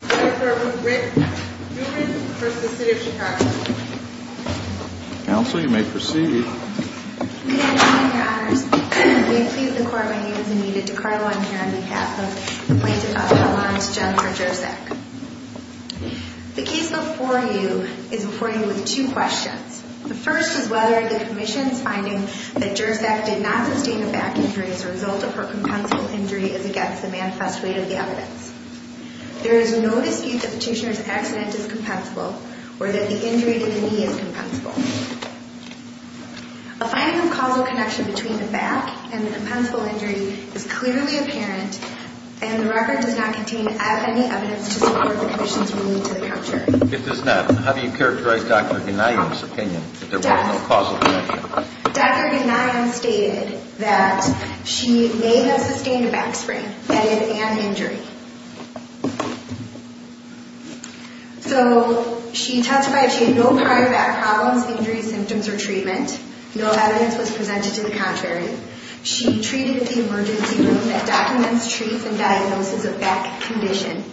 The case before you is before you with two questions. The first is whether the Commission's finding that Jurczak did not sustain a back injury as a result of her compensable injury is against the manifest weight of the evidence. There is no dispute that the patient's accident is compensable or that the injury to the knee is compensable. A finding of causal connection between the back and the compensable injury is clearly apparent and the record does not contain any evidence to support the Commission's ruling to the contrary. If it does not, how do you characterize Dr. Gnajem's opinion that there was no causal connection? Dr. Gnajem stated that she may have sustained a back sprain and an injury. So she testified she had no prior back problems, injuries, symptoms or treatment. No evidence was presented to the contrary. She treated the emergency room that documents, treats and diagnoses a back condition.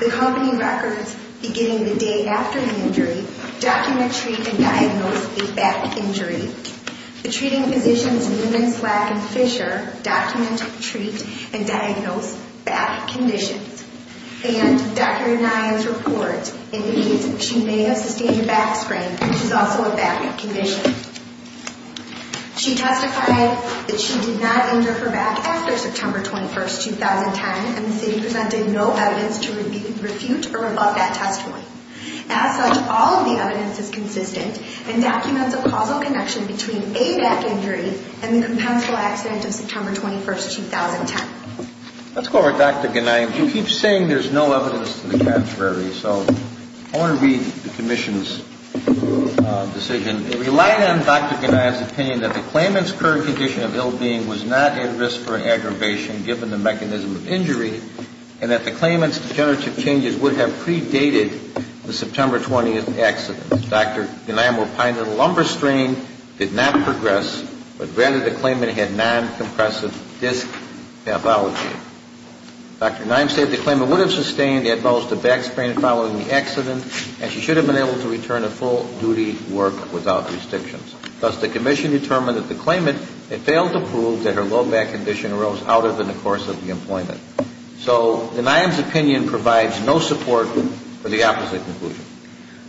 The company records beginning the day after the injury document, treat and diagnose a back injury. The treating physicians Newman, Slack and Fisher document, treat and diagnose back conditions. And Dr. Gnajem's report indicates she may have sustained a back sprain which is also a back condition. She testified that she did not injure her back after September 21st, 2010 and the city presented no evidence to refute or revoke that testimony. As such, all of the evidence is consistent and documents a causal connection between a back injury and the compensable accident of September 21st, 2010. Let's go over Dr. Gnajem. You keep saying there's no evidence to the contrary. So I want to read the Commission's decision. It relied on Dr. Gnajem's opinion that the claimant's current condition of ill-being was not at risk for aggravation given the mechanism of injury and that the claimant's degenerative changes would have predated the September 20th accident. Dr. Gnajem replied that a lumbar strain did not progress but rather the claimant had non-compressive disc pathology. Dr. Gnajem said the claimant would have sustained the adverse to back sprain following the accident and she should have been able to return to full duty work without restrictions. Thus, the Commission determined that the claimant had failed to prove that her low back condition arose out of in the course of the employment. So Gnajem's opinion provides no support for the opposite conclusion.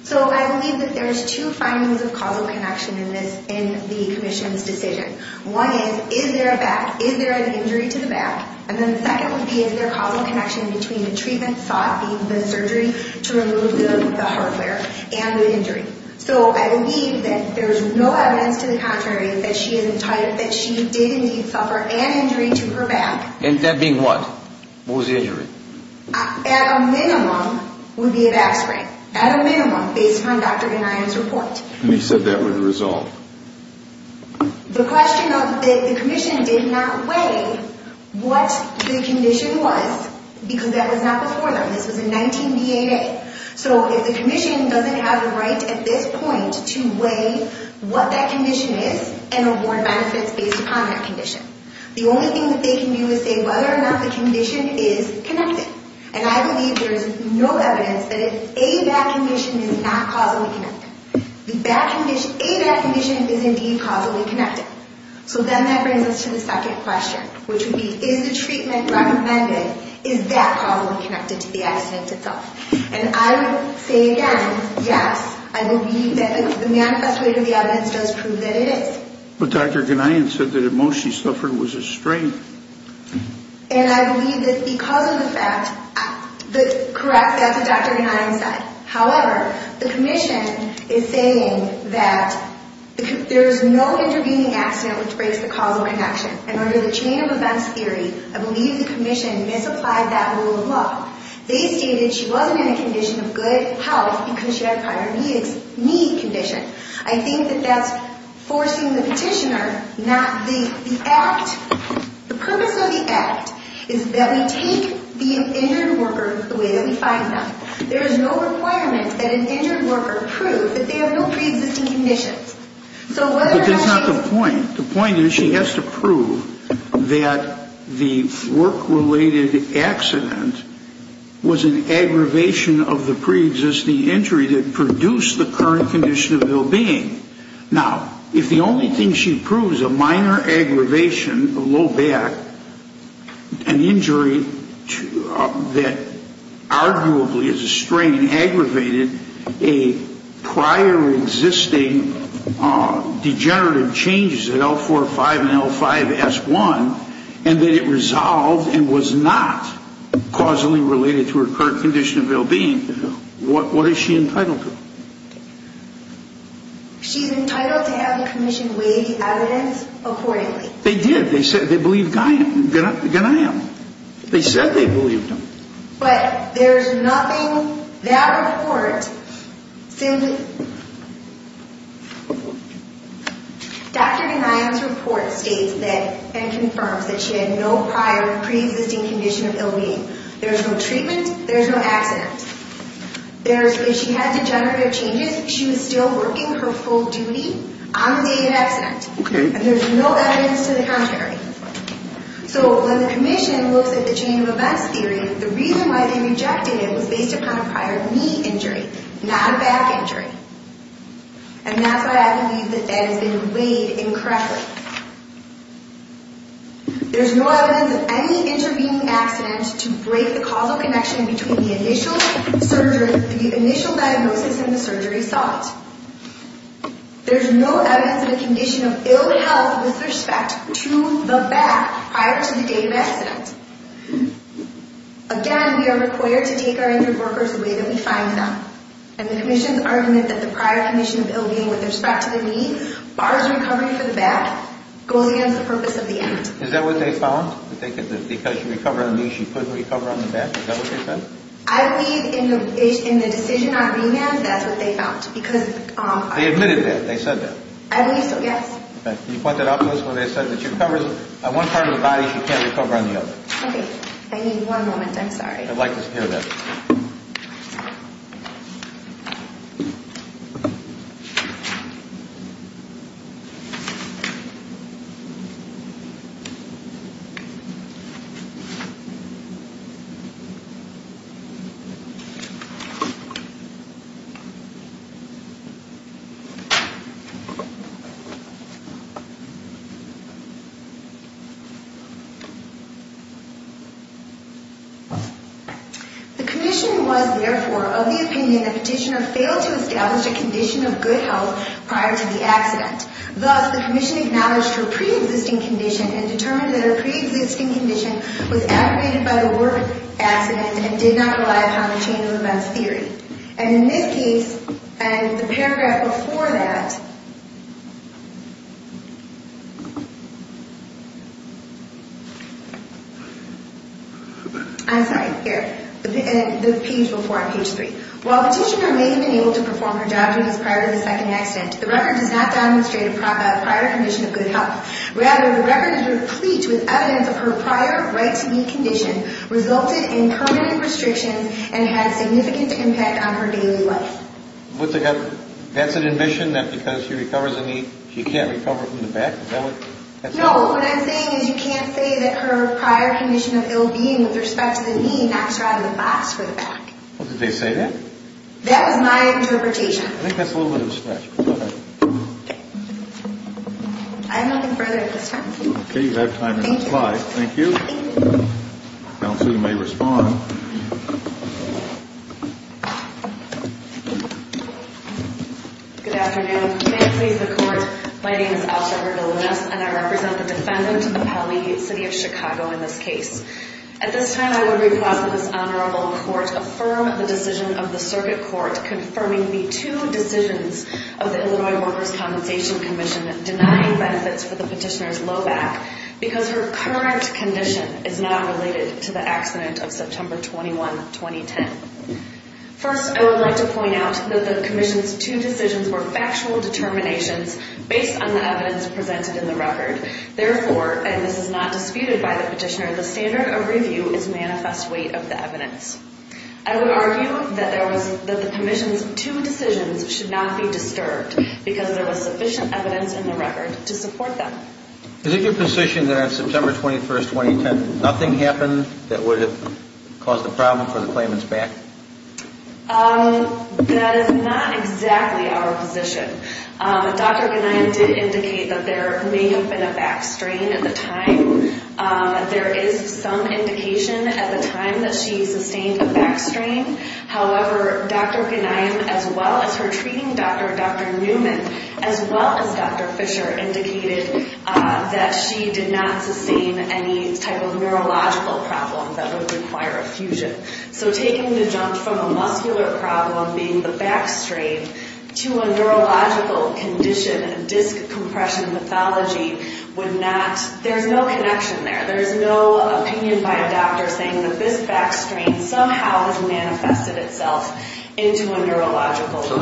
So I believe that there's two findings of causal connection in this, in the Commission's decision. One is, is there a back, is there an injury to the back? And then the second would be, is there a causal connection between the treatment sought, being the surgery, to remove the hardware, and the injury? So I believe that there's no evidence to the contrary that she did indeed suffer an injury to her back. And that being what? What was the injury? At a minimum, would be a back sprain. At a minimum, based on Dr. Gnajem's report. And you said that would resolve? The question of, the Commission did not weigh what the condition was, because that was not before them. This was in 19-B-8-A. So if the Commission doesn't have the right at this point to weigh what that condition is and award benefits based upon that condition, the only thing that they can do is say whether or not the condition is connected. And I believe there is no evidence that a back condition is not causally connected. A back condition is indeed causally connected. So then that brings us to the second question, which would be, is the treatment recommended, is that causally connected to the accident itself? And I would say again, yes, I believe that the manifesto of the evidence does prove that it is. But Dr. Gnajem said that at most she suffered was a sprain. And I believe that because of the fact that, correct, that's what Dr. Gnajem said. However, the Commission is saying that there is no intervening accident which breaks the causal connection. And under the chain of events theory, I believe the Commission misapplied that rule of law. They stated she wasn't in a condition of good health because she had a prior knee condition. I think that that's forcing the petitioner not the act. The purpose of the act is that we take the injured worker the way that we find them. There is no requirement that an injured worker prove that they have no preexisting conditions. But that's not the point. The point is she has to prove that the work-related accident was an aggravation of the preexisting injury that produced the current condition of ill-being. Now, if the only thing she proves, a minor aggravation of low back, an injury that arguably is a strain, aggravated a prior existing degenerative changes in L4-5 and L5-S1, and that it resolved and was not causally related to her current condition of ill-being, what is she entitled to? She's entitled to have the Commission weigh the evidence accordingly. They did. They said they believed Ganiyam. They said they believed him. But there's nothing that report says. Dr. Ganiyam's report states that and confirms that she had no prior preexisting condition of ill-being. There's no treatment. There's no accident. If she had degenerative changes, she was still working her full duty on the day of accident. Okay. And there's no evidence to the contrary. So when the Commission looks at the chain of events theory, the reason why they rejected it was based upon a prior knee injury, not a back injury. And that's why I believe that that has been weighed incorrectly. There's no evidence of any intervening accident to break the causal connection between the initial surgery, the initial diagnosis and the surgery site. There's no evidence of a condition of ill-health with respect to the back prior to the day of accident. Again, we are required to take our injured workers the way that we find them. And the Commission's argument that the prior condition of ill-being with respect to the knee bars recovery for the back goes against the purpose of the act. Is that what they found? That because she recovered on the knee, she couldn't recover on the back? Is that what they said? I believe in the decision on remand, that's what they found. They admitted that? They said that? I believe so, yes. Okay. You point that out to us when they said that she recovers on one part of the body, she can't recover on the other. Okay. I need one moment. I'm sorry. I'd like to hear that. The Commission was, therefore, of the opinion that Petitioner failed to establish a condition of good health prior to the accident. Thus, the Commission acknowledged her pre-existing condition and determined that her pre-existing condition was aggravated by the work accident and did not rely upon the change of events theory. And in this case, and the paragraph before that, I'm sorry, here, the page before on page 3. While Petitioner may have been able to perform her job duties prior to the second accident, the record does not demonstrate a prior condition of good health. Rather, the record is replete with evidence of her prior right-to-knee condition resulted in permanent restrictions and had significant impact on her daily life. That's an admission that because she recovers a knee, she can't recover from the back? No. What I'm saying is you can't say that her prior condition of ill-being with respect to the knee knocks her out of the box for the back. Well, did they say that? That was my interpretation. I think that's a little bit of a stretch. I have nothing further at this time. Okay. You have time to reply. Thank you. Thank you. You may respond. Good afternoon. May it please the Court, my name is Alsha Heard Alumnus, and I represent the defendant in the county city of Chicago in this case. At this time, I would request that this Honorable Court affirm the decision of the Circuit Court confirming the two decisions of the Illinois Workers' Compensation Commission denying benefits for the Petitioner's low back because her current condition is not related to the accident of September 21, 2010. First, I would like to point out that the Commission's two decisions were factual determinations based on the evidence presented in the record. Therefore, and this is not disputed by the Petitioner, the standard of review is manifest weight of the evidence. I would argue that the Commission's two decisions should not be disturbed because there was sufficient evidence in the record to support them. Is it your position that on September 21, 2010, nothing happened that would have caused the problem for the claimant's back? That is not exactly our position. Dr. Ganiam did indicate that there may have been a back strain at the time. There is some indication at the time that she sustained a back strain. However, Dr. Ganiam, as well as her treating doctor, Dr. Newman, as well as Dr. Fisher indicated that she did not sustain any type of neurological problem that would require a fusion. So taking the jump from a muscular problem, being the back strain, to a neurological condition, a disc compression pathology, would not, there's no connection there. There's no opinion by a doctor saying that this back strain somehow has manifested itself into a neurological problem. So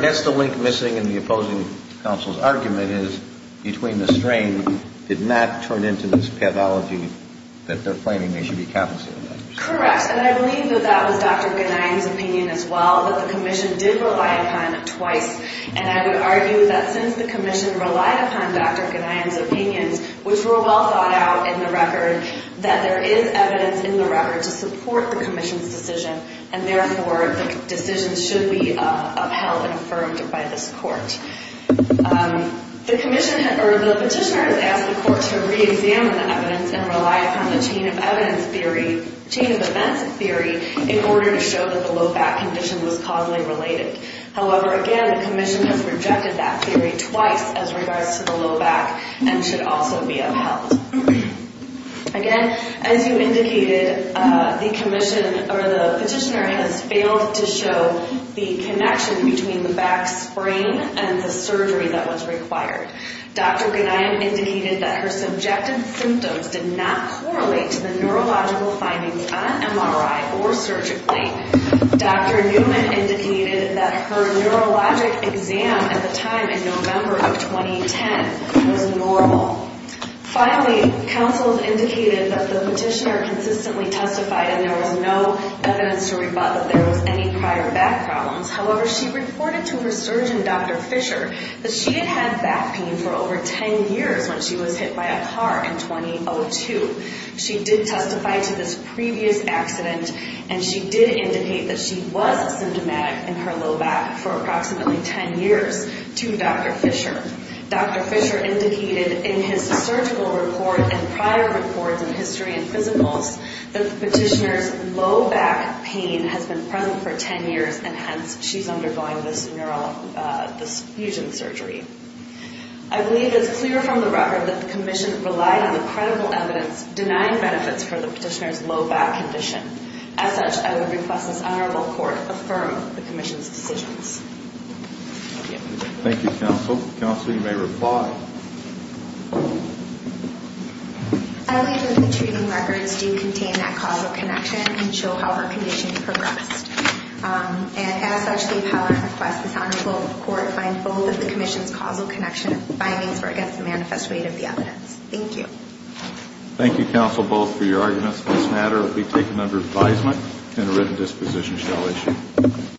that's the link missing in the opposing counsel's argument is between the strain did not turn into this pathology that they're claiming they should be compensated by. Correct. And I believe that that was Dr. Ganiam's opinion as well, that the Commission did rely upon it twice. And I would argue that since the Commission relied upon Dr. Ganiam's opinions, which were well thought out in the record, that there is evidence in the record to support the Commission's decision, and therefore the decision should be upheld and affirmed by this court. The petitioner has asked the court to reexamine the evidence and rely upon the chain of events theory in order to show that the low back condition was causally related. However, again, the Commission has rejected that theory twice as regards to the low back and should also be upheld. Again, as you indicated, the petitioner has failed to show the connection between the back strain and the surgery that was required. Dr. Ganiam indicated that her subjective symptoms did not correlate to the neurological findings on MRI or surgically. Dr. Newman indicated that her neurologic exam at the time in November of 2010 was normal. Finally, counsel has indicated that the petitioner consistently testified and there was no evidence to rebut that there was any prior back problems. However, she reported to her surgeon, Dr. Fisher, that she had had back pain for over 10 years when she was hit by a car in 2002. She did testify to this previous accident and she did indicate that she was symptomatic in her low back for approximately 10 years to Dr. Fisher. Dr. Fisher indicated in his surgical report and prior reports in history and physicals that the petitioner's low back pain has been present for 10 years and hence she's undergoing this fusion surgery. I believe it's clear from the record that the Commission relied on the credible evidence denying benefits for the petitioner's low back condition. As such, I would request this Honorable Court affirm the Commission's decisions. Thank you, counsel. Counsel, you may reply. I believe that the treating records do contain that causal connection and show how her condition progressed. As such, the appellant requests this Honorable Court find both of the Commission's causal connection findings were against the manifest weight of the evidence. Thank you. Thank you, counsel, both for your arguments on this matter. It will be taken under advisement and a written disposition shall issue.